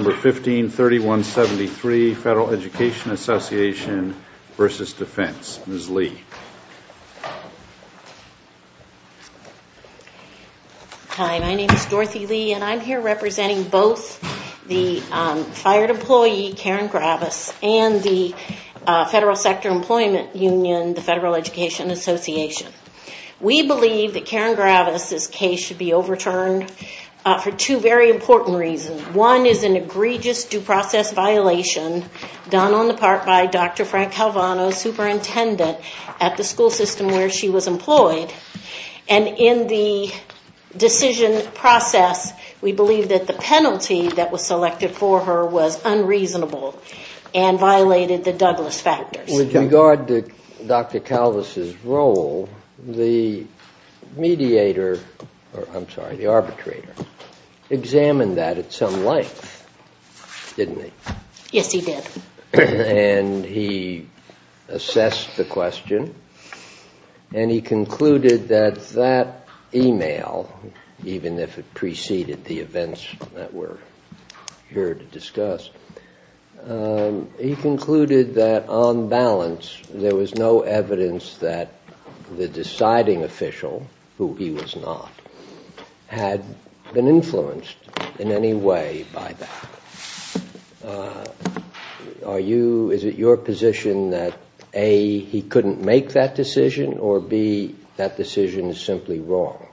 No. 15-3173, Federal Education Association v. Defense. Ms. Lee. Hi, my name is Dorothy Lee and I'm here representing both the FIRED employee, Karen Gravis, and the Federal Sector Employment Union, the Federal Education Association. We believe that Karen Gravis was found guilty of an egregious due process violation done on the part by Dr. Frank Calvano, superintendent, at the school system where she was employed. And in the decision process, we believe that the penalty that was selected for her was unreasonable and violated the Douglas factors. With regard to Dr. Calvis' role, the mediator, I'm sorry, the arbitrator, examined that at some length, didn't he? Yes, he did. And he assessed the question and he concluded that that email, even if it preceded the events that we're here to discuss, he concluded that on balance, there was no evidence that the by that. Is it your position that A, he couldn't make that decision, or B, that decision is simply wrong?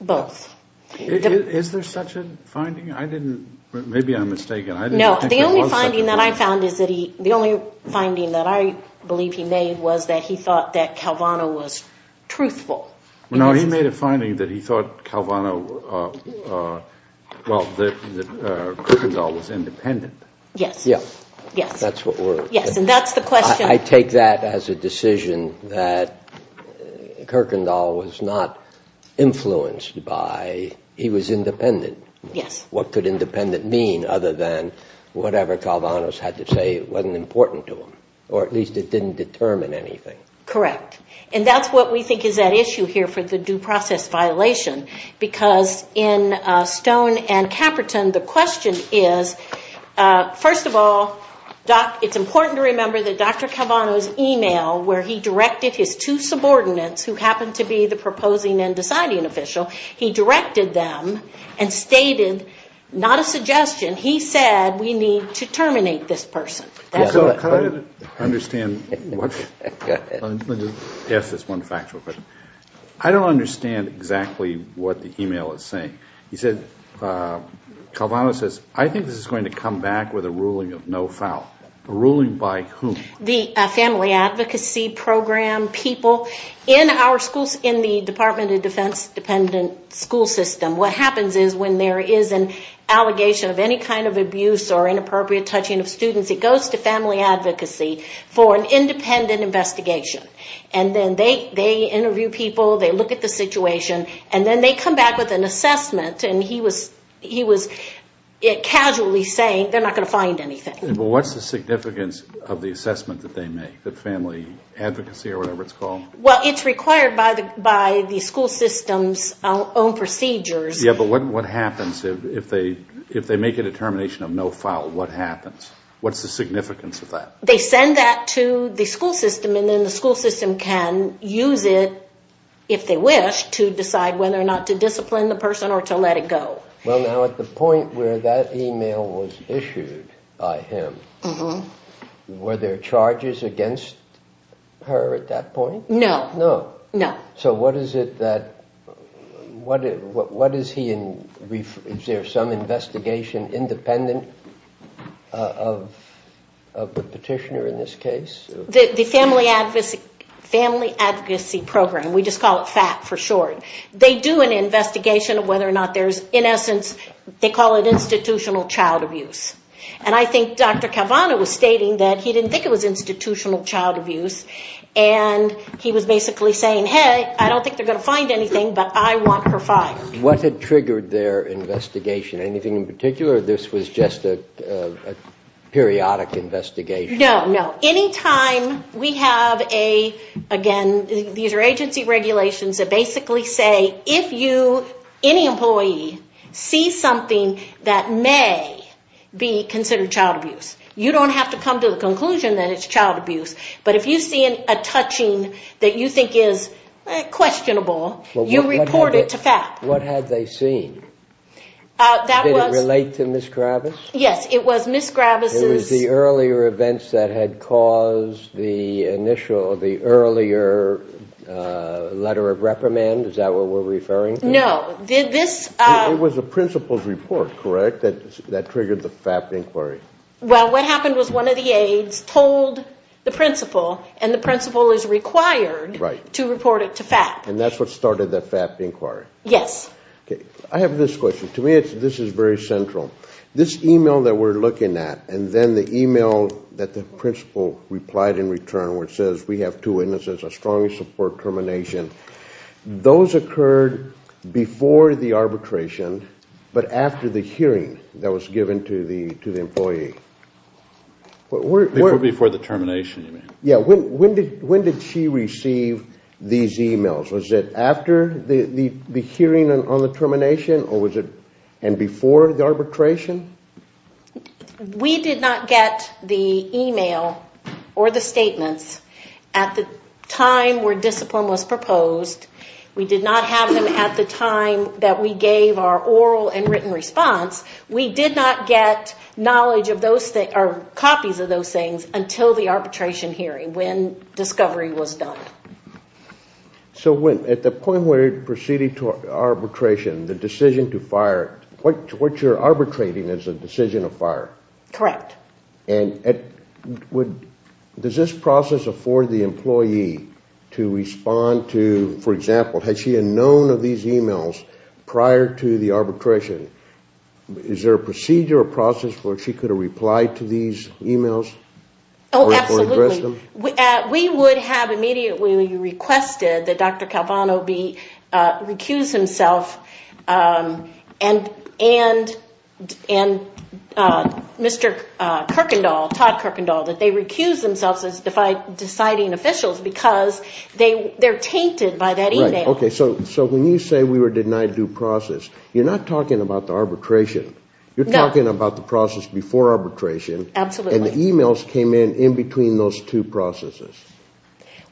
Both. Is there such a finding? I didn't, maybe I'm mistaken. No, the only finding that I found is that he, the only finding that I believe he made was that he thought that Calvano was truthful. No, he made a finding that he thought Calvano, well, that Kuykendall was independent. Yes. Yes. Yes. That's what we're. Yes, and that's the question. I take that as a decision that Kuykendall was not influenced by, he was independent. Yes. What could independent mean other than whatever Calvano had to say wasn't important to him, or at least it didn't determine anything. Correct, and that's what we think is at issue here for the due process violation, because in Stone and Caperton, the question is, first of all, it's important to remember that Dr. Calvano's email where he directed his two subordinates, who happened to be the proposing and deciding official, he directed them and stated, not a suggestion, he said we need to terminate this person. Can I just ask this one factual question? I don't understand exactly what the email is saying. He said, Calvano says, I think this is going to come back with a ruling of no foul. A ruling by whom? The Family Advocacy Program people. In our schools, in the Department of Defense dependent school system, what happens is when there is an allegation of any kind of abuse or inappropriate touching of students, it goes to Family Advocacy for an independent investigation. And then they interview people, they look at the situation, and then they come back with an assessment, and he was casually saying, they're not going to find anything. What's the significance of the assessment that they make, the Family Advocacy or whatever it's called? Well, it's required by the school system's own procedures. Yeah, but what happens if they make a determination of no foul? What happens? What's the significance of that? They send that to the school system, and then the school system can use it, if they wish, to decide whether or not to discipline the person or to let it go. Well, now, at the point where that email was issued by him, were there charges against her at that point? No. No. No. So what is it that, what is he, is there some investigation independent of the petitioner in this case? The Family Advocacy Program, we just call it FAP for short, they do an investigation of whether or not there's, in essence, they call it institutional child abuse. And I think Dr. Cavanaugh was stating that he didn't think it was institutional child saying, hey, I don't think they're going to find anything, but I want her fined. What had triggered their investigation? Anything in particular, or this was just a periodic investigation? No. No. Anytime we have a, again, these are agency regulations that basically say, if you, any employee, sees something that may be considered child abuse, you don't have to come to the questionable, you report it to FAP. What had they seen? That was... Did it relate to Ms. Gravis? Yes, it was Ms. Gravis's... It was the earlier events that had caused the initial, the earlier letter of reprimand, is that what we're referring to? No, this... It was the principal's report, correct, that triggered the FAP inquiry? Well, what happened was one of the aides told the principal, and the principal is required to report it to FAP. And that's what started the FAP inquiry? Yes. Okay. I have this question. To me, this is very central. This email that we're looking at, and then the email that the principal replied in return, where it says, we have two witnesses, I strongly support termination. Those occurred before the arbitration, but after the hearing that was given to the employee. Before the termination, you mean? Yeah. When did she receive these emails? Was it after the hearing on the termination, or was it... And before the arbitration? We did not get the email or the statements at the time where discipline was proposed. We did not have them at the time that we gave our oral and written response. We did not get copies of those things until the arbitration hearing, when discovery was done. So at the point where it proceeded to arbitration, the decision to fire, what you're arbitrating is a decision of fire? Correct. And does this process afford the employee to respond to, for example, had she known of these emails prior to the arbitration? Is there a procedure or process where she could have replied to these emails or addressed them? Oh, absolutely. We would have immediately requested that Dr. Calvano recuse himself and Mr. Kirkendall, Todd Kirkendall, that they recuse themselves as deciding officials because they're tainted by that email. Right. Okay, so when you say we were denied due process, you're not talking about the arbitration. You're talking about the process before arbitration. Absolutely. And the emails came in in between those two processes.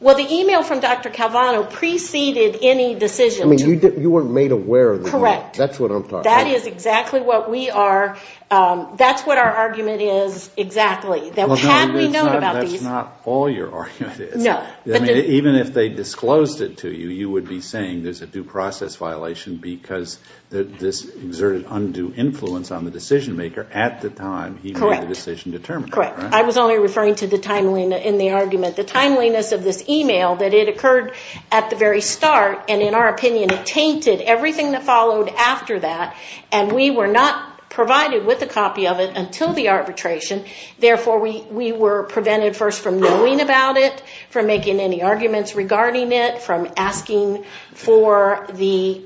Well, the email from Dr. Calvano preceded any decision. I mean, you weren't made aware of the email. Correct. That's what I'm talking about. That is exactly what we are. That's what our argument is exactly. Well, that's not all your argument is. No. I mean, even if they disclosed it to you, you would be saying there's a due process violation because this exerted undue influence on the decision maker at the time he made the decision to terminate. Correct. I was only referring to the timeliness in the argument. The timeliness of this email, that it occurred at the very start and, in our opinion, it tainted everything that followed after that, and we were not provided with a copy of it until the arbitration. Therefore, we were prevented first from knowing about it, from making any arguments regarding it, from asking for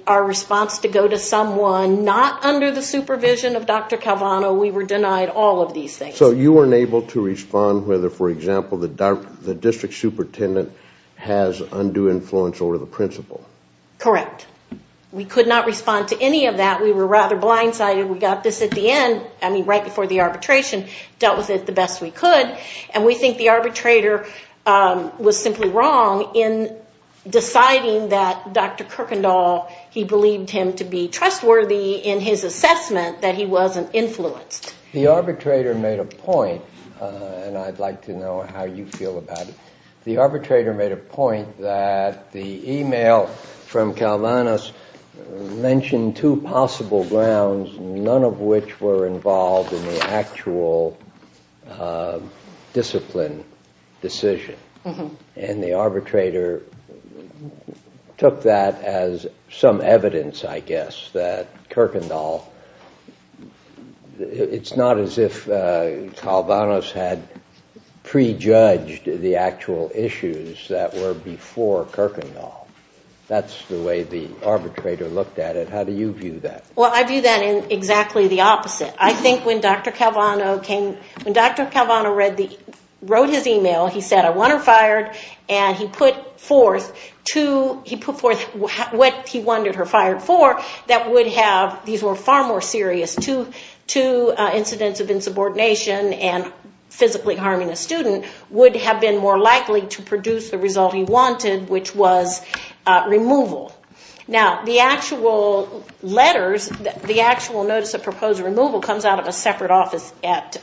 our response to go to someone not under the supervision of Dr. Calvano. We were denied all of these things. So you weren't able to respond whether, for example, the district superintendent has undue influence over the principal. Correct. We could not respond to any of that. We were rather blindsided. We got this at the end, I mean right before the arbitration, dealt with it the best we could, and we think the arbitrator was simply wrong in deciding that Dr. Kirkendall, he believed him to be trustworthy in his assessment that he wasn't influenced. The arbitrator made a point, and I'd like to know how you feel about it. The arbitrator made a point that the e-mail from Calvano's mentioned two possible grounds, none of which were involved in the actual discipline decision, and the arbitrator took that as some evidence, I guess, that Kirkendall, it's not as if Calvano's had prejudged the actual issues that were before Kirkendall. That's the way the arbitrator looked at it. How do you view that? Well, I view that in exactly the opposite. I think when Dr. Calvano came, when Dr. Calvano wrote his e-mail, he said, I want her fired, and he put forth two, he put forth what he wanted her fired for that would have, these were far more serious, two incidents of insubordination and physically harming a student, would have been more likely to produce the result he wanted, which was removal. Now, the actual letters, the actual notice of proposed removal, comes out of a separate office at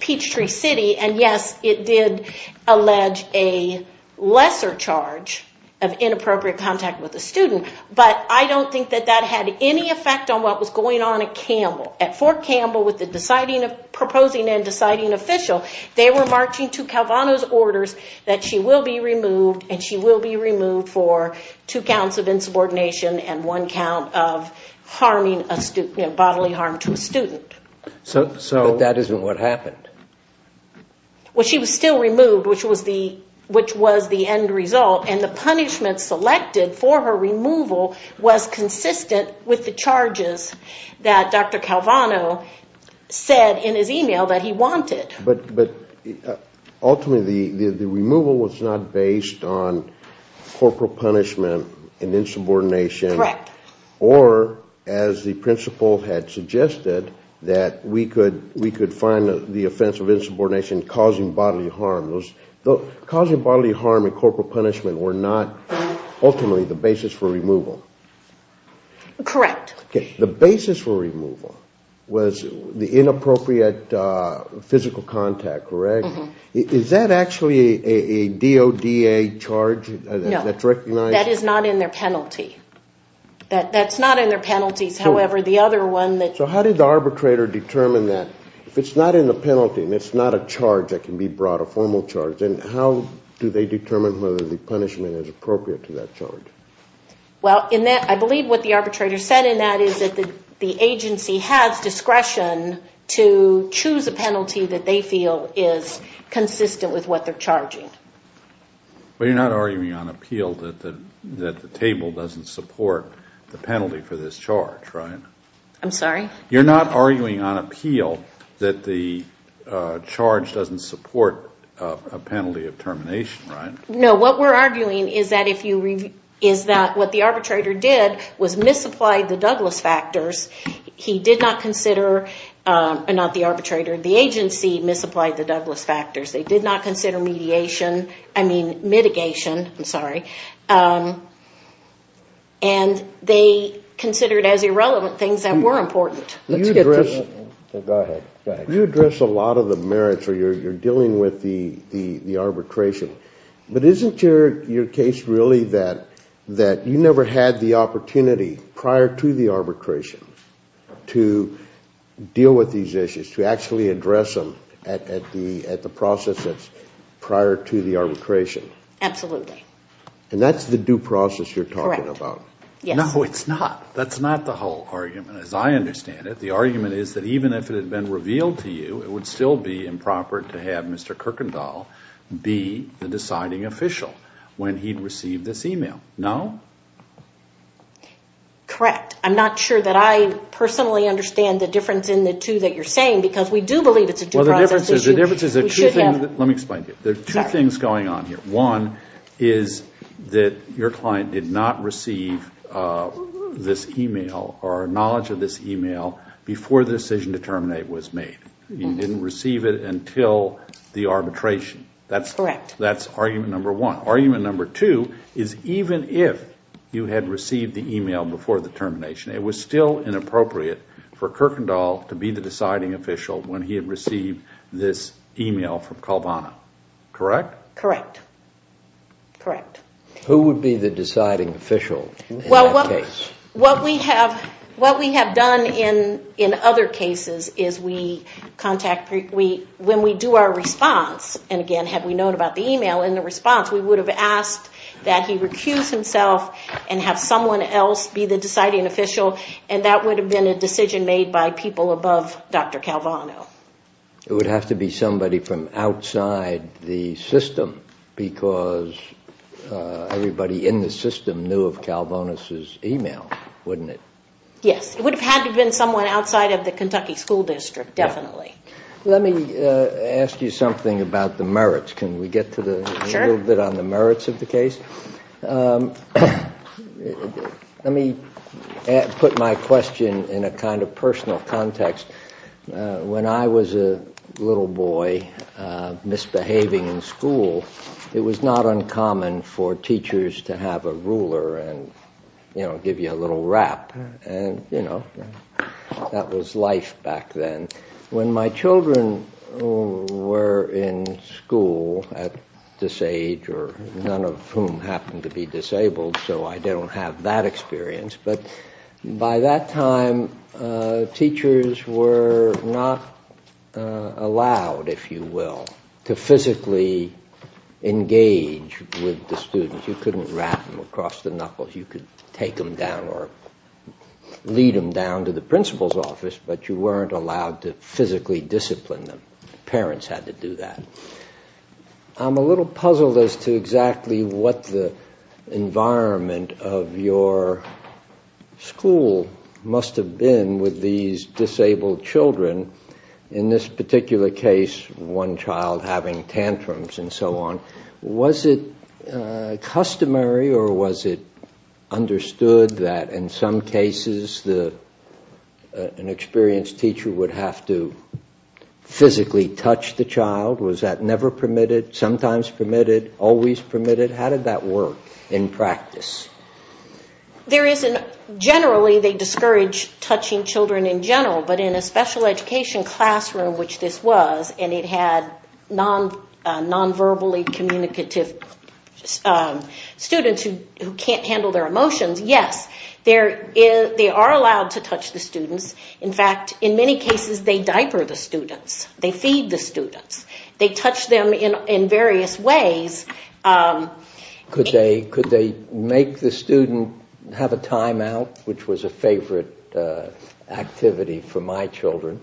Peachtree City, and yes, it did allege a lesser charge of inappropriate contact with a student, but I don't think that that had any effect on what was going on at Campbell. At Fort Campbell, with the proposing and deciding official, they were marching to Calvano's orders that she will be removed, and she will be removed for two counts of insubordination and one count of bodily harm to a student. But that isn't what happened. Well, she was still removed, which was the end result, and the punishment selected for her removal was consistent with the charges that Dr. Calvano said in his e-mail that he wanted. But ultimately, the removal was not based on corporal punishment and insubordination, or as the principal had suggested, that we could find the offense of insubordination causing bodily harm. Causing bodily harm and corporal punishment were not ultimately the basis for removal. Correct. The basis for removal was the inappropriate physical contact, correct? Is that actually a DODA charge that's recognized? That is not in their penalty. That's not in their penalties. So how did the arbitrator determine that? If it's not in the penalty and it's not a charge that can be brought, a formal charge, then how do they determine whether the punishment is appropriate to that charge? I believe what the arbitrator said in that is that the agency has discretion to choose a penalty that they feel is consistent with what they're charging. But you're not arguing on appeal that the table doesn't support the penalty for this charge, right? I'm sorry? You're not arguing on appeal that the charge doesn't support a penalty of termination, right? No. What we're arguing is that what the arbitrator did was misapply the Douglas factors. He did not consider, not the arbitrator, the agency misapplied the Douglas factors. They did not consider mediation, I mean mitigation, I'm sorry, and they considered as irrelevant things that were important. Let's get to it. Go ahead. You address a lot of the merits where you're dealing with the arbitration, but isn't your case really that you never had the opportunity prior to the arbitration to deal with these issues, to actually address them at the process that's prior to the arbitration? Absolutely. And that's the due process you're talking about? Correct. Yes. No, it's not. That's not the whole argument, as I understand it. The argument is that even if it had been revealed to you, it would still be improper to have Mr. Kirkendall be the deciding official when he'd received this email, no? Correct. I'm not sure that I personally understand the difference in the two that you're saying, because we do believe it's a due process issue. Well, the difference is there are two things going on here. One is that your client did not receive this email or knowledge of this email before the decision to terminate was made. You didn't receive it until the arbitration. That's argument number one. Argument number two is even if you had received the email before the termination, it was still inappropriate for Kirkendall to be the deciding official when he had received this email from Calvano. Correct? Correct. Correct. Who would be the deciding official in that case? Well, what we have done in other cases is when we do our response, and again, had we known about the email in the response, we would have asked that he recuse himself and have someone else be the deciding official, and that would have been a decision made by people above Dr. Calvano. It would have to be somebody from outside the system, because everybody in the system knew of Calvano's email, wouldn't it? Yes. It would have had to have been someone outside of the Kentucky School District, definitely. Let me ask you something about the merits. Can we get a little bit on the merits of the case? Sure. Let me put my question in a kind of personal context. When I was a little boy misbehaving in school, it was not uncommon for teachers to have a ruler and give you a little rap, and that was life back then. But when my children were in school at this age, or none of whom happened to be disabled, so I don't have that experience, but by that time teachers were not allowed, if you will, to physically engage with the students. You couldn't rap them across the knuckles. You could take them down or lead them down to the principal's office, but you weren't allowed to physically discipline them. Parents had to do that. I'm a little puzzled as to exactly what the environment of your school must have been with these disabled children. In this particular case, one child having tantrums and so on. Was it customary or was it understood that in some cases an experienced teacher would have to physically touch the child? Was that never permitted, sometimes permitted, always permitted? How did that work in practice? Generally they discourage touching children in general, but in a special education classroom, which this was, and it had non-verbally communicative students who can't handle their emotions, yes, they are allowed to touch the students. In fact, in many cases they diaper the students. They feed the students. They touch them in various ways. Could they make the student have a time out, which was a favorite activity for my children.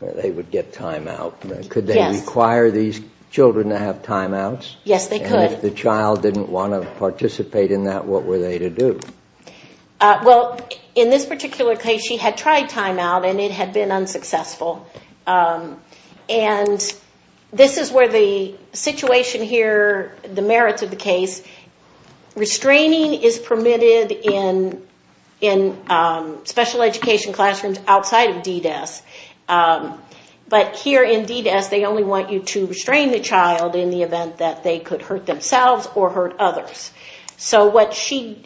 They would get time out. Could they require these children to have time outs? Yes, they could. And if the child didn't want to participate in that, what were they to do? Well, in this particular case she had tried time out and it had been unsuccessful. And this is where the situation here, the merits of the case, restraining is permitted in special education classrooms outside of DDes. But here in DDes they only want you to restrain the child in the event that they could hurt themselves or hurt others. So what she's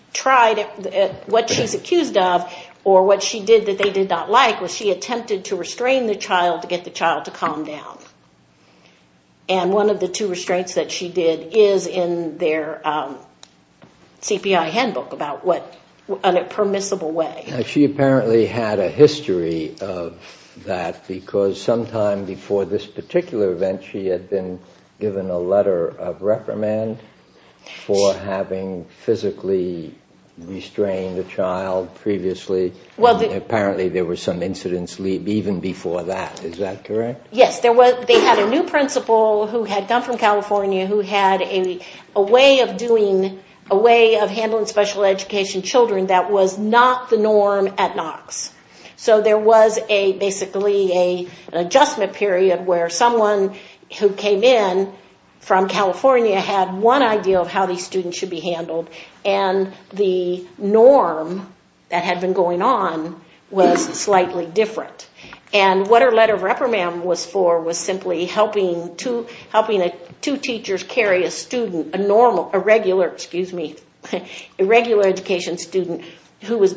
accused of, or what she did that they did not like, was she attempted to restrain the child to get the child to calm down. And one of the two restraints that she did is in their CPI handbook about what a permissible way. She apparently had a history of that because sometime before this particular event she had been given a letter of reprimand for having physically restrained a child previously. Apparently there were some incidents even before that. Is that correct? Yes. They had a new principal who had come from California who had a way of handling special education children that was not the norm at Knox. So there was basically an adjustment period where someone who came in from California had one idea of how these students should be handled and the norm that had been going on was slightly different. And what her letter of reprimand was for was simply helping two teachers carry a student, a regular education student, who was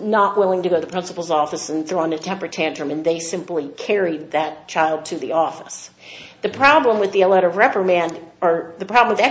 not willing to go to the principal's office and throw in a temper tantrum and they simply carried that child to the office. The problem with that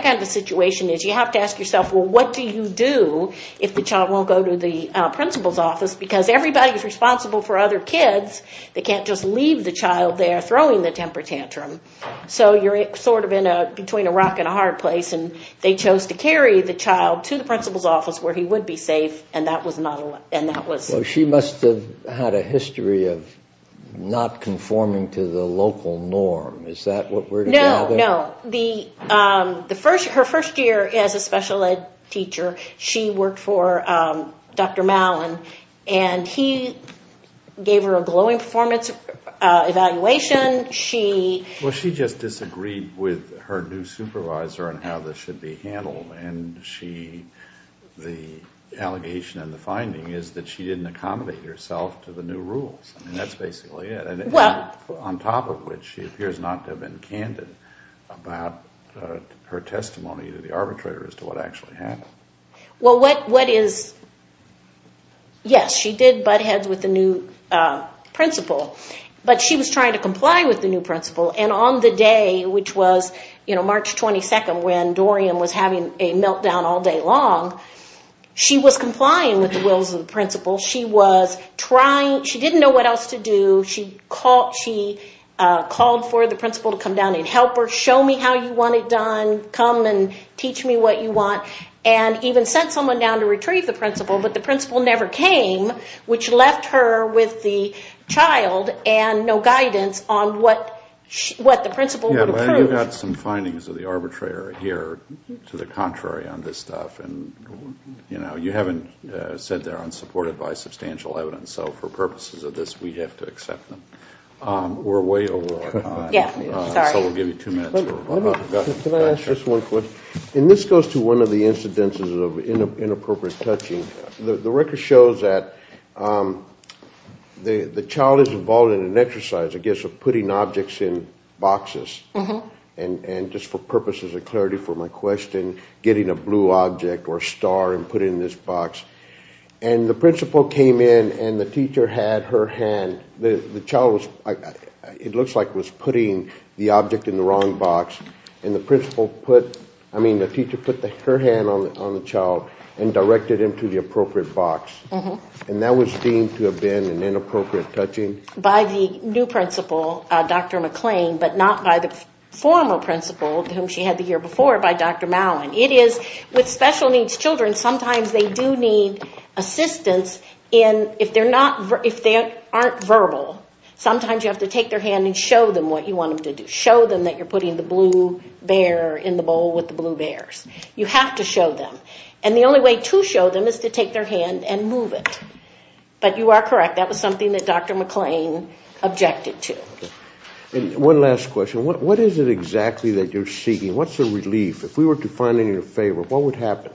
kind of a situation is you have to ask yourself, well what do you do if the child won't go to the principal's office because everybody is responsible for other kids. They can't just leave the child there throwing the temper tantrum. So you're sort of between a rock and a hard place and they chose to carry the child to the principal's office where he would be safe and that was not allowed. She must have had a history of not conforming to the local norm. Is that what we're talking about? No, no. Her first year as a special ed teacher she worked for Dr. Mallon and he gave her a glowing performance evaluation. Well she just disagreed with her new supervisor on how this should be handled and the allegation and the finding is that she didn't accommodate herself to the new rules and that's basically it. On top of which she appears not to have been candid about her testimony to the arbitrator as to what actually happened. Well what is, yes she did butt heads with the new principal but she was trying to comply with the new principal and on the day which was March 22nd when Dorian was having a meltdown all day long she was complying with the wills of the principal. She was trying, she didn't know what else to do. She called for the principal to come down and help her, show me how you want it done, come and teach me what you want and even sent someone down to retrieve the principal but the principal never came which left her with the child and no guidance on what the principal would approve. You've got some findings of the arbitrator here to the contrary on this stuff and you haven't said they're unsupported by substantial evidence so for purposes of this we have to accept them. We're way over our time so we'll give you two minutes. Can I ask just one question? This goes to one of the incidences of inappropriate touching. The record shows that the child is involved in an exercise I guess of putting objects in boxes and just for purposes of clarity for my question getting a blue object or a star and putting it in this box and the principal came in and the teacher had her hand, the child it looks like was putting the object in the wrong box and the principal put, I mean the teacher put her hand on the child and directed him to the appropriate box and that was deemed to have been an inappropriate touching. By the new principal, Dr. McClain but not by the former principal whom she had the year before by Dr. Mallon. It is with special needs children sometimes they do need assistance if they aren't verbal. Sometimes you have to take their hand and show them what you want them to do. Show them that you're putting the blue bear in the bowl with the blue bears. You have to show them. And the only way to show them is to take their hand and move it. But you are correct. That was something that Dr. McClain objected to. One last question. What is it exactly that you're seeking? What's the relief? If we were to find in your favor, what would happen?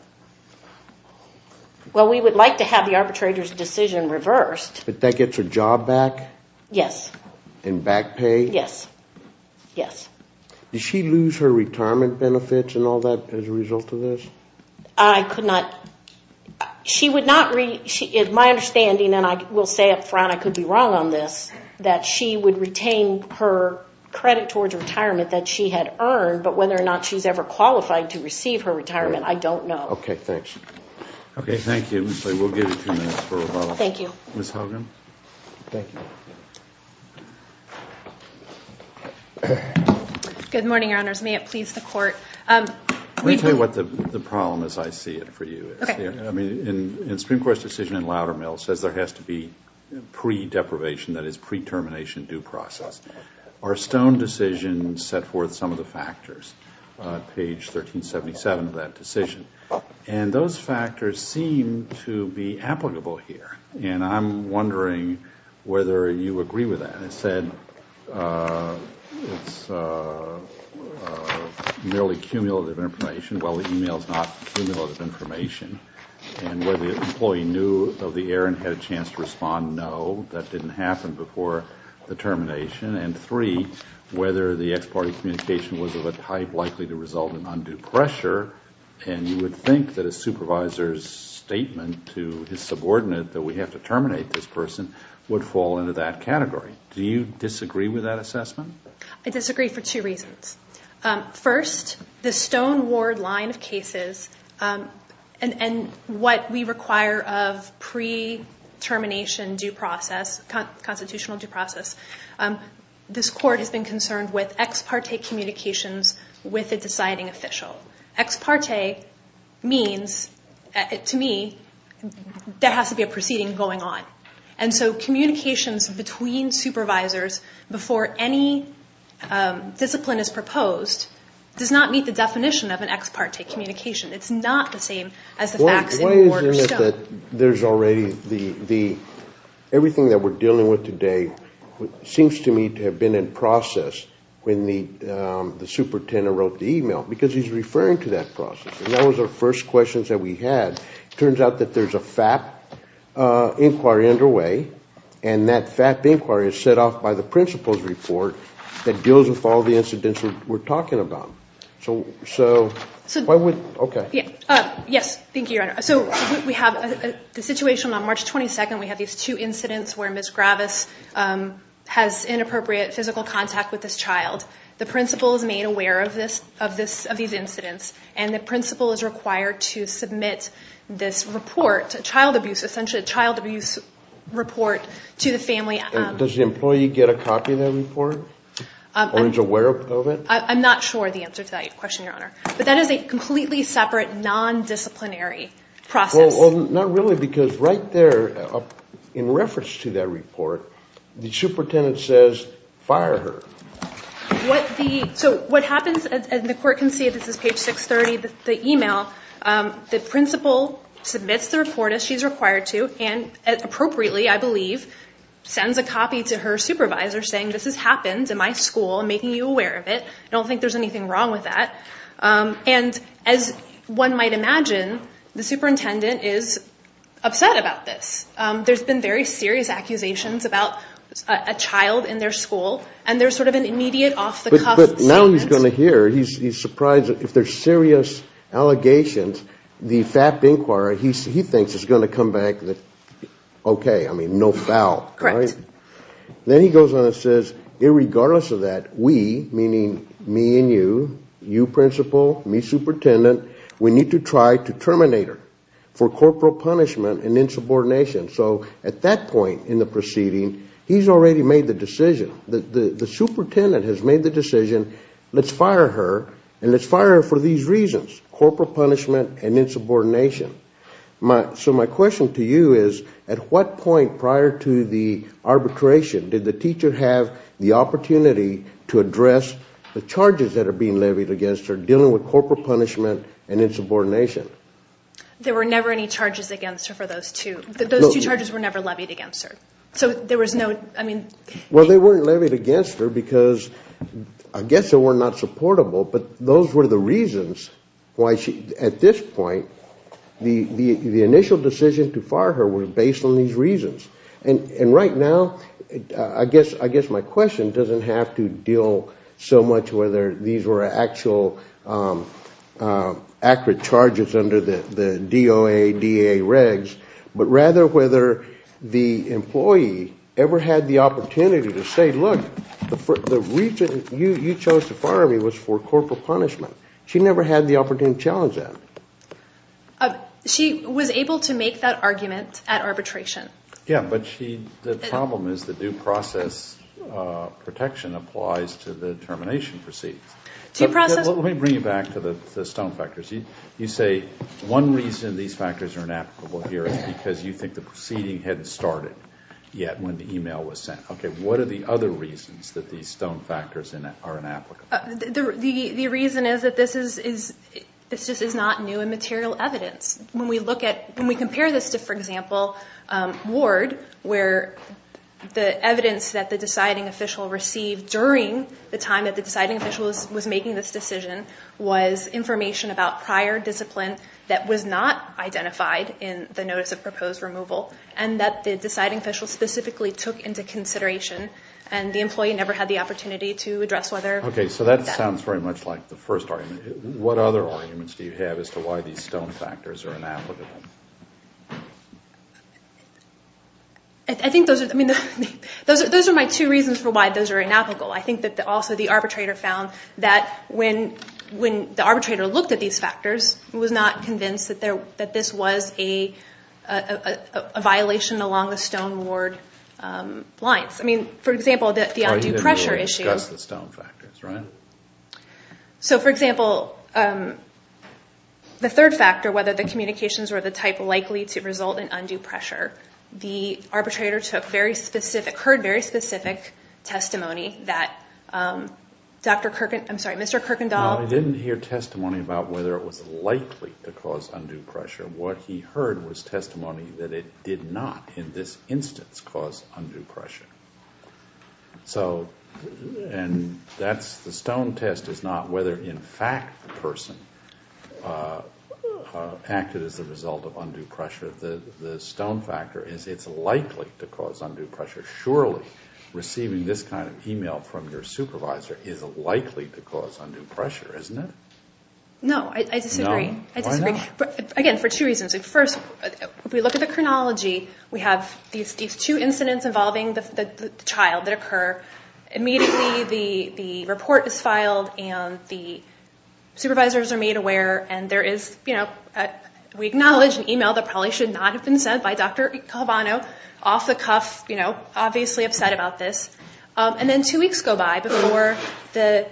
Well, we would like to have the arbitrator's decision reversed. But that gets her job back? Yes. And back pay? Yes. Yes. Does she lose her retirement benefits and all that as a result of this? I could not. She would not. My understanding, and I will say up front I could be wrong on this, that she would retain her credit towards retirement that she had earned. But whether or not she's ever qualified to receive her retirement, I don't know. Okay, thanks. Okay, thank you. We'll give you two minutes for rebuttal. Thank you. Ms. Hogan. Thank you. Good morning, Your Honors. May it please the Court. Let me tell you what the problem as I see it for you is. Okay. I mean, in Supreme Court's decision in Loudermill, it says there has to be pre-deprivation, that is pre-termination due process. Our Stone decision set forth some of the factors, page 1377 of that decision. And those factors seem to be applicable here. And I'm wondering whether you agree with that. As I said, it's merely cumulative information. Well, the email is not cumulative information. And whether the employee knew of the error and had a chance to respond, no. That didn't happen before the termination. And three, whether the ex parte communication was of a type likely to result in undue pressure. And you would think that a supervisor's statement to his subordinate that we have to terminate this person would fall into that category. Do you disagree with that assessment? I disagree for two reasons. First, the Stone Ward line of cases and what we require of pre-termination due process, constitutional due process, this Court has been concerned with ex parte communications with a deciding official. Ex parte means, to me, there has to be a proceeding going on. And so communications between supervisors before any discipline is proposed does not meet the definition of an ex parte communication. It's not the same as the facts in the Ward or Stone. The way is that there's already the, everything that we're dealing with today seems to me to have been in process when the superintendent wrote the email because he's referring to that process. And that was our first questions that we had. It turns out that there's a FAP inquiry underway, and that FAP inquiry is set off by the principal's report that deals with all the incidents that we're talking about. So why would, okay. Yes, thank you, Your Honor. So we have the situation on March 22nd. We have these two incidents where Ms. Gravis has inappropriate physical contact with this child. The principal is made aware of these incidents, and the principal is required to submit this report, a child abuse, essentially a child abuse report to the family. Does the employee get a copy of that report? Or is aware of it? I'm not sure the answer to that question, Your Honor. But that is a completely separate, non-disciplinary process. Well, not really because right there in reference to that report, the superintendent says, fire her. So what happens, and the court can see this is page 630, the email. The principal submits the report, as she's required to, and appropriately, I believe, sends a copy to her supervisor saying, this has happened in my school. I'm making you aware of it. I don't think there's anything wrong with that. And as one might imagine, the superintendent is upset about this. There's been very serious accusations about a child in their school, and there's sort of an immediate off-the-cuff stance. But now he's going to hear. He's surprised. If there's serious allegations, the FAP inquiry, he thinks, is going to come back with, okay, I mean, no foul. Correct. Then he goes on and says, irregardless of that, we, meaning me and you, you principal, me superintendent, we need to try to terminate her for corporal punishment and insubordination. So at that point in the proceeding, he's already made the decision. The superintendent has made the decision, let's fire her, and let's fire her for these reasons, corporal punishment and insubordination. So my question to you is, at what point prior to the arbitration did the teacher have the opportunity to address the charges that are being levied against her dealing with corporal punishment and insubordination? There were never any charges against her for those two. Those two charges were never levied against her. So there was no, I mean. Well, they weren't levied against her because I guess they were not supportable, but those were the reasons why she, at this point, the initial decision to fire her was based on these reasons. And right now, I guess my question doesn't have to deal so much whether these were actual accurate charges under the DOA, DA regs, but rather whether the employee ever had the opportunity to say, look, the reason you chose to fire me was for corporal punishment. She never had the opportunity to challenge that. She was able to make that argument at arbitration. Yeah, but the problem is the due process protection applies to the termination proceedings. Let me bring you back to the stone factors. You say one reason these factors are inapplicable here is because you think the proceeding hadn't started yet when the email was sent. Okay, what are the other reasons that these stone factors are inapplicable? The reason is that this just is not new and material evidence. When we compare this to, for example, ward, where the evidence that the deciding official received during the time that the deciding official was making this decision was information about prior discipline that was not identified in the notice of proposed removal and that the deciding official specifically took into consideration and the employee never had the opportunity to address whether that was. Okay, so that sounds very much like the first argument. What other arguments do you have as to why these stone factors are inapplicable? I think those are my two reasons for why those are inapplicable. I think that also the arbitrator found that when the arbitrator looked at these factors, was not convinced that this was a violation along the stone ward lines. I mean, for example, the undue pressure issue. You didn't discuss the stone factors, right? So, for example, the third factor, whether the communications were of the type likely to result in undue pressure, the arbitrator heard very specific testimony that Mr. Kirkendall... No, he didn't hear testimony about whether it was likely to cause undue pressure. What he heard was testimony that it did not, in this instance, cause undue pressure. So, and the stone test is not whether, in fact, the person acted as a result of undue pressure. The stone factor is it's likely to cause undue pressure. Surely, receiving this kind of email from your supervisor is likely to cause undue pressure, isn't it? No, I disagree. Again, for two reasons. First, if we look at the chronology, we have these two incidents involving the child that occur. Immediately, the report is filed, and the supervisors are made aware, and there is, you know, we acknowledge an email that probably should not have been sent by Dr. Calvano, off the cuff, you know, obviously upset about this. And then two weeks go by before the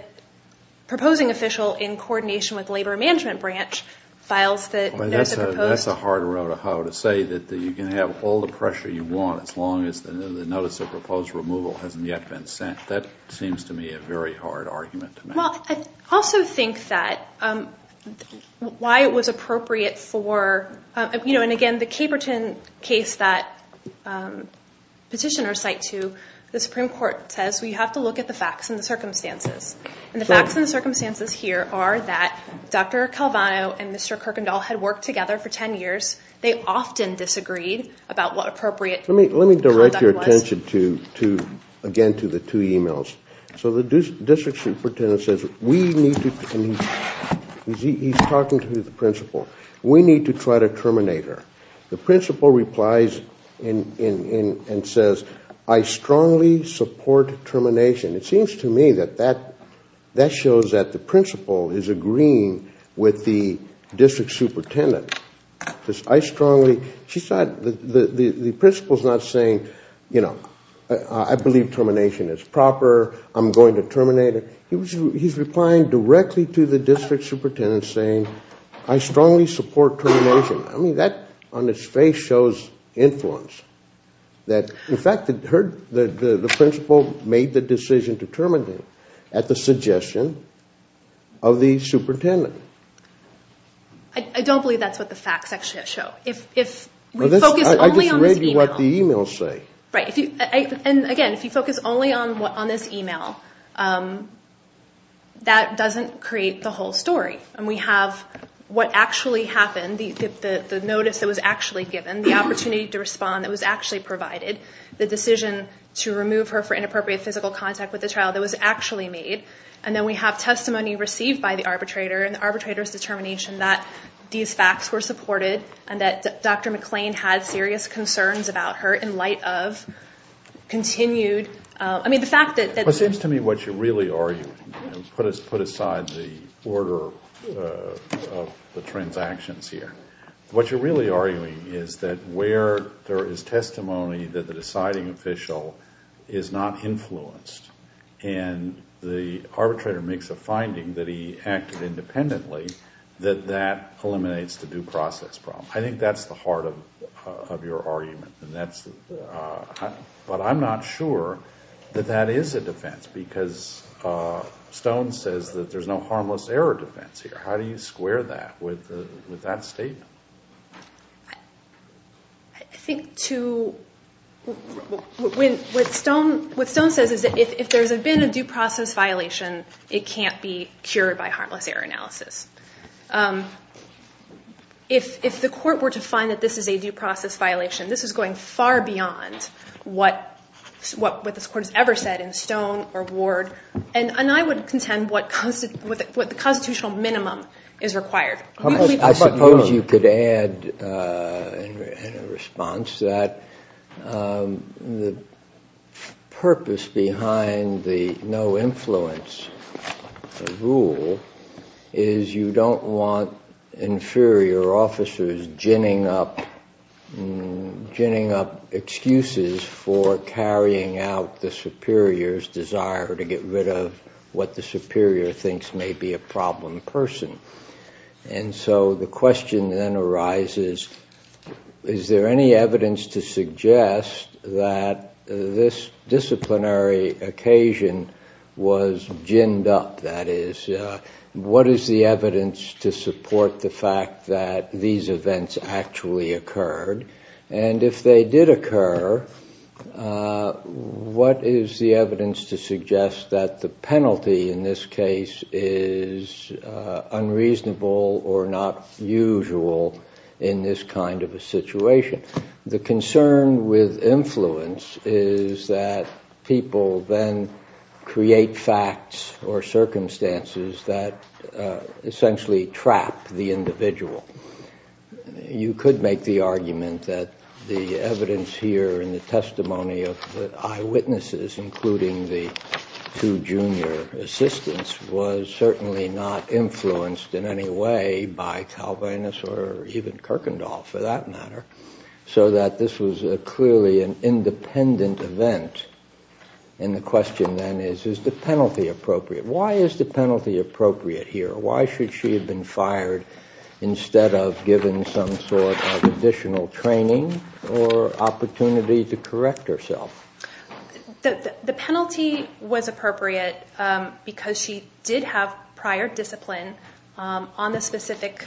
proposing official, in coordination with the Labor Management Branch, files the proposed... You get all the pressure you want as long as the notice of proposed removal hasn't yet been sent. That seems to me a very hard argument to make. Well, I also think that why it was appropriate for, you know, and again, the Caperton case that petitioners cite to, the Supreme Court says we have to look at the facts and the circumstances. And the facts and the circumstances here are that Dr. Calvano and Mr. Kirkendall had worked together for 10 years. They often disagreed about what appropriate conduct was. Let me direct your attention to, again, to the two emails. So the district superintendent says we need to, and he's talking to the principal, we need to try to terminate her. The principal replies and says, I strongly support termination. It seems to me that that shows that the principal is agreeing with the district superintendent. I strongly, she's not, the principal's not saying, you know, I believe termination is proper, I'm going to terminate her. He's replying directly to the district superintendent saying, I strongly support termination. I mean, that on its face shows influence. In fact, the principal made the decision to terminate her at the suggestion of the superintendent. I don't believe that's what the facts actually show. If we focus only on this email. I just read you what the emails say. Right. And, again, if you focus only on this email, that doesn't create the whole story. And we have what actually happened, the notice that was actually given, the opportunity to respond that was actually provided, the decision to remove her for inappropriate physical contact with the child that was actually made, and then we have testimony received by the arbitrator and the arbitrator's determination that these facts were supported and that Dr. McClain had serious concerns about her in light of continued, I mean, the fact that. It seems to me what you're really arguing, put aside the order of the transactions here, what you're really arguing is that where there is testimony that the deciding official is not influenced and the arbitrator makes a finding that he acted independently, that that eliminates the due process problem. I think that's the heart of your argument. But I'm not sure that that is a defense because Stone says that there's no harmless error defense here. How do you square that with that statement? I think to what Stone says is that if there's been a due process violation, it can't be cured by harmless error analysis. If the court were to find that this is a due process violation, this is going far beyond what this court has ever said in Stone or Ward, and I would contend what the constitutional minimum is required. I suppose you could add in response that the purpose behind the no influence rule is you don't want inferior officers ginning up excuses for carrying out the superior's desire to get rid of what the superior thinks may be a problem person. And so the question then arises, is there any evidence to suggest that this disciplinary occasion was ginned up? That is, what is the evidence to support the fact that these events actually occurred? And if they did occur, what is the evidence to suggest that the penalty in this case is unreasonable or not usual in this kind of a situation? The concern with influence is that people then create facts or circumstances that essentially trap the individual. You could make the argument that the evidence here in the testimony of the eyewitnesses, including the two junior assistants, was certainly not influenced in any way by Calvinus or even Kirkendall for that matter, so that this was clearly an independent event. And the question then is, is the penalty appropriate? Why is the penalty appropriate here? Why should she have been fired instead of given some sort of additional training or opportunity to correct herself? The penalty was appropriate because she did have prior discipline on the specific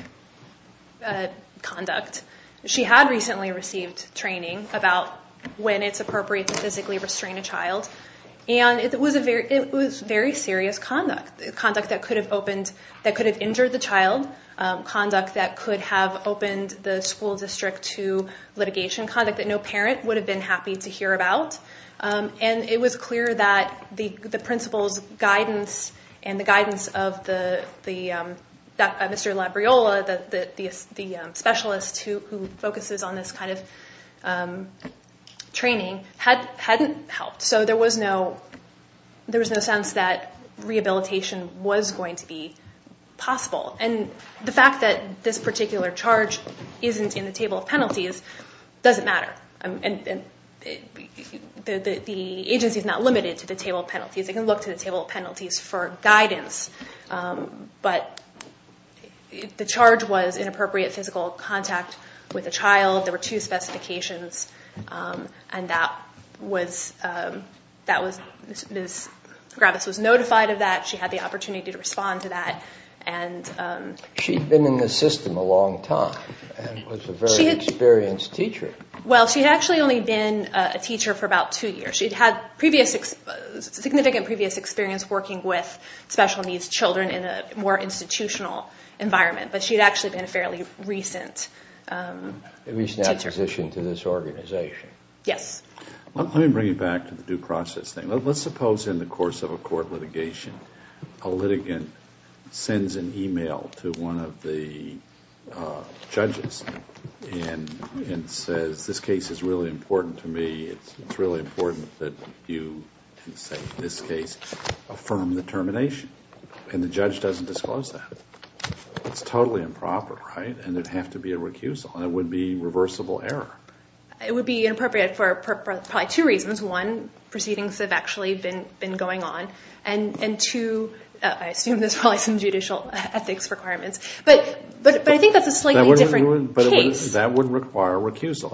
conduct. She had recently received training about when it's appropriate to physically restrain a child, and it was very serious conduct, conduct that could have injured the child, conduct that could have opened the school district to litigation, conduct that no parent would have been happy to hear about. And it was clear that the principal's guidance and the guidance of Mr. Labriola, the specialist who focuses on this kind of training, hadn't helped. So there was no sense that rehabilitation was going to be possible. And the fact that this particular charge isn't in the table of penalties doesn't matter. The agency is not limited to the table of penalties. They can look to the table of penalties for guidance, but the charge was inappropriate physical contact with a child. There were two specifications, and Ms. Gravis was notified of that. She had the opportunity to respond to that. She'd been in the system a long time and was a very experienced teacher. Well, she'd actually only been a teacher for about two years. She'd had significant previous experience working with special needs children in a more institutional environment, but she'd actually been a fairly recent teacher. A recent acquisition to this organization. Yes. Let me bring you back to the due process thing. Let's suppose in the course of a court litigation, a litigant sends an email to one of the judges and says, this case is really important to me. It's really important that you, in this case, affirm the termination. And the judge doesn't disclose that. It's totally improper, right? And there'd have to be a recusal, and it would be reversible error. It would be inappropriate for probably two reasons. One, proceedings have actually been going on, and two, I assume there's probably some judicial ethics requirements. But I think that's a slightly different case. But that would require recusal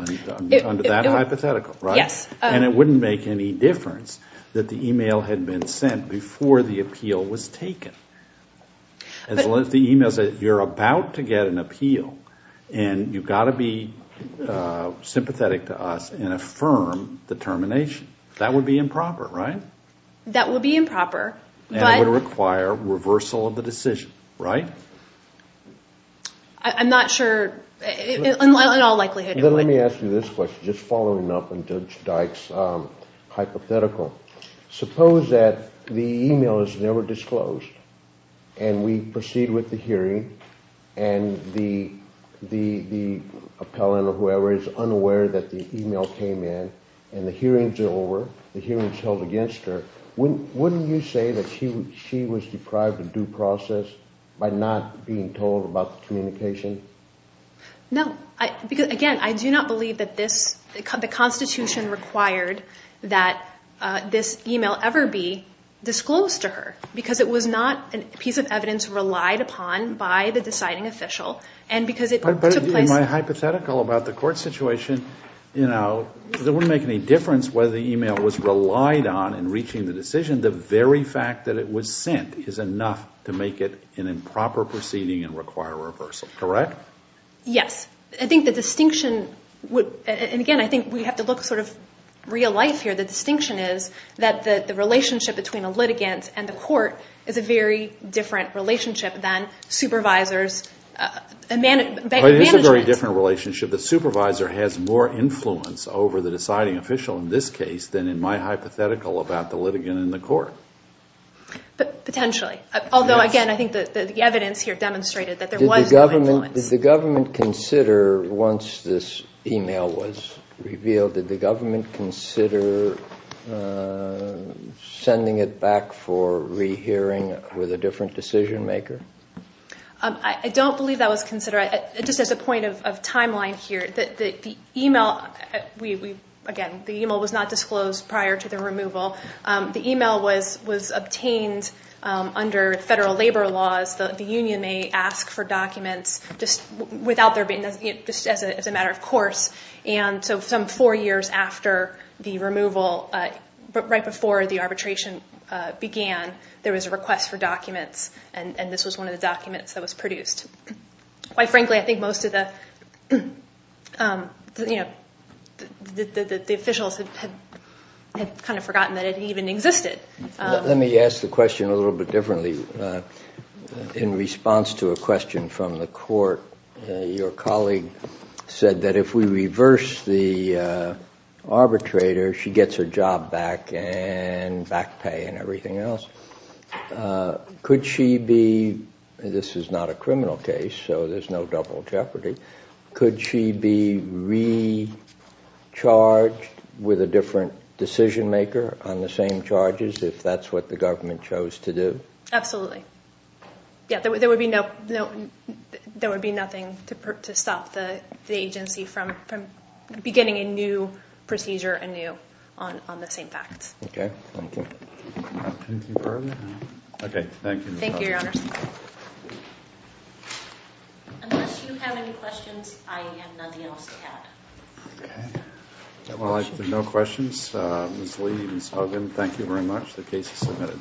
under that hypothetical, right? Yes. And it wouldn't make any difference that the email had been sent before the appeal was taken. As long as the email says you're about to get an appeal and you've got to be sympathetic to us and affirm the termination. That would be improper, right? That would be improper. And it would require reversal of the decision, right? I'm not sure. In all likelihood, it would. Then let me ask you this question, just following up on Judge Dyke's hypothetical. Suppose that the email is never disclosed and we proceed with the hearing and the appellant or whoever is unaware that the email came in and the hearings are over, the hearing is held against her. Wouldn't you say that she was deprived of due process by not being told about the communication? No. Again, I do not believe that the Constitution required that this email ever be disclosed to her because it was not a piece of evidence relied upon by the deciding official. But in my hypothetical about the court situation, it wouldn't make any difference whether the email was relied on in reaching the decision. The very fact that it was sent is enough to make it an improper proceeding and require reversal, correct? Yes. I think the distinction would, and again, I think we have to look sort of real life here. The distinction is that the relationship between a litigant and the court is a very different relationship than supervisors' management. It is a very different relationship. The supervisor has more influence over the deciding official in this case than in my hypothetical about the litigant and the court. Potentially. Although, again, I think the evidence here demonstrated that there was no influence. Did the government consider, once this email was revealed, did the government consider sending it back for rehearing with a different decision maker? I don't believe that was considered. Just as a point of timeline here, the email, again, the email was not disclosed prior to the removal. The email was obtained under federal labor laws. The union may ask for documents just as a matter of course. Some four years after the removal, right before the arbitration began, there was a request for documents, and this was one of the documents that was produced. Quite frankly, I think most of the officials had kind of forgotten that it even existed. Let me ask the question a little bit differently. In response to a question from the court, your colleague said that if we reverse the arbitrator, she gets her job back and back pay and everything else. Could she be, this is not a criminal case, so there's no double jeopardy, could she be recharged with a different decision maker on the same charges if that's what the government chose to do? Absolutely. Yeah, there would be nothing to stop the agency from beginning a new procedure anew on the same facts. Okay, thank you. Anything further? Okay, thank you, Ms. Hogan. Thank you, Your Honor. Unless you have any questions, I have nothing else to add. Okay. If there are no questions, Ms. Lee, Ms. Hogan, thank you very much. The case is submitted.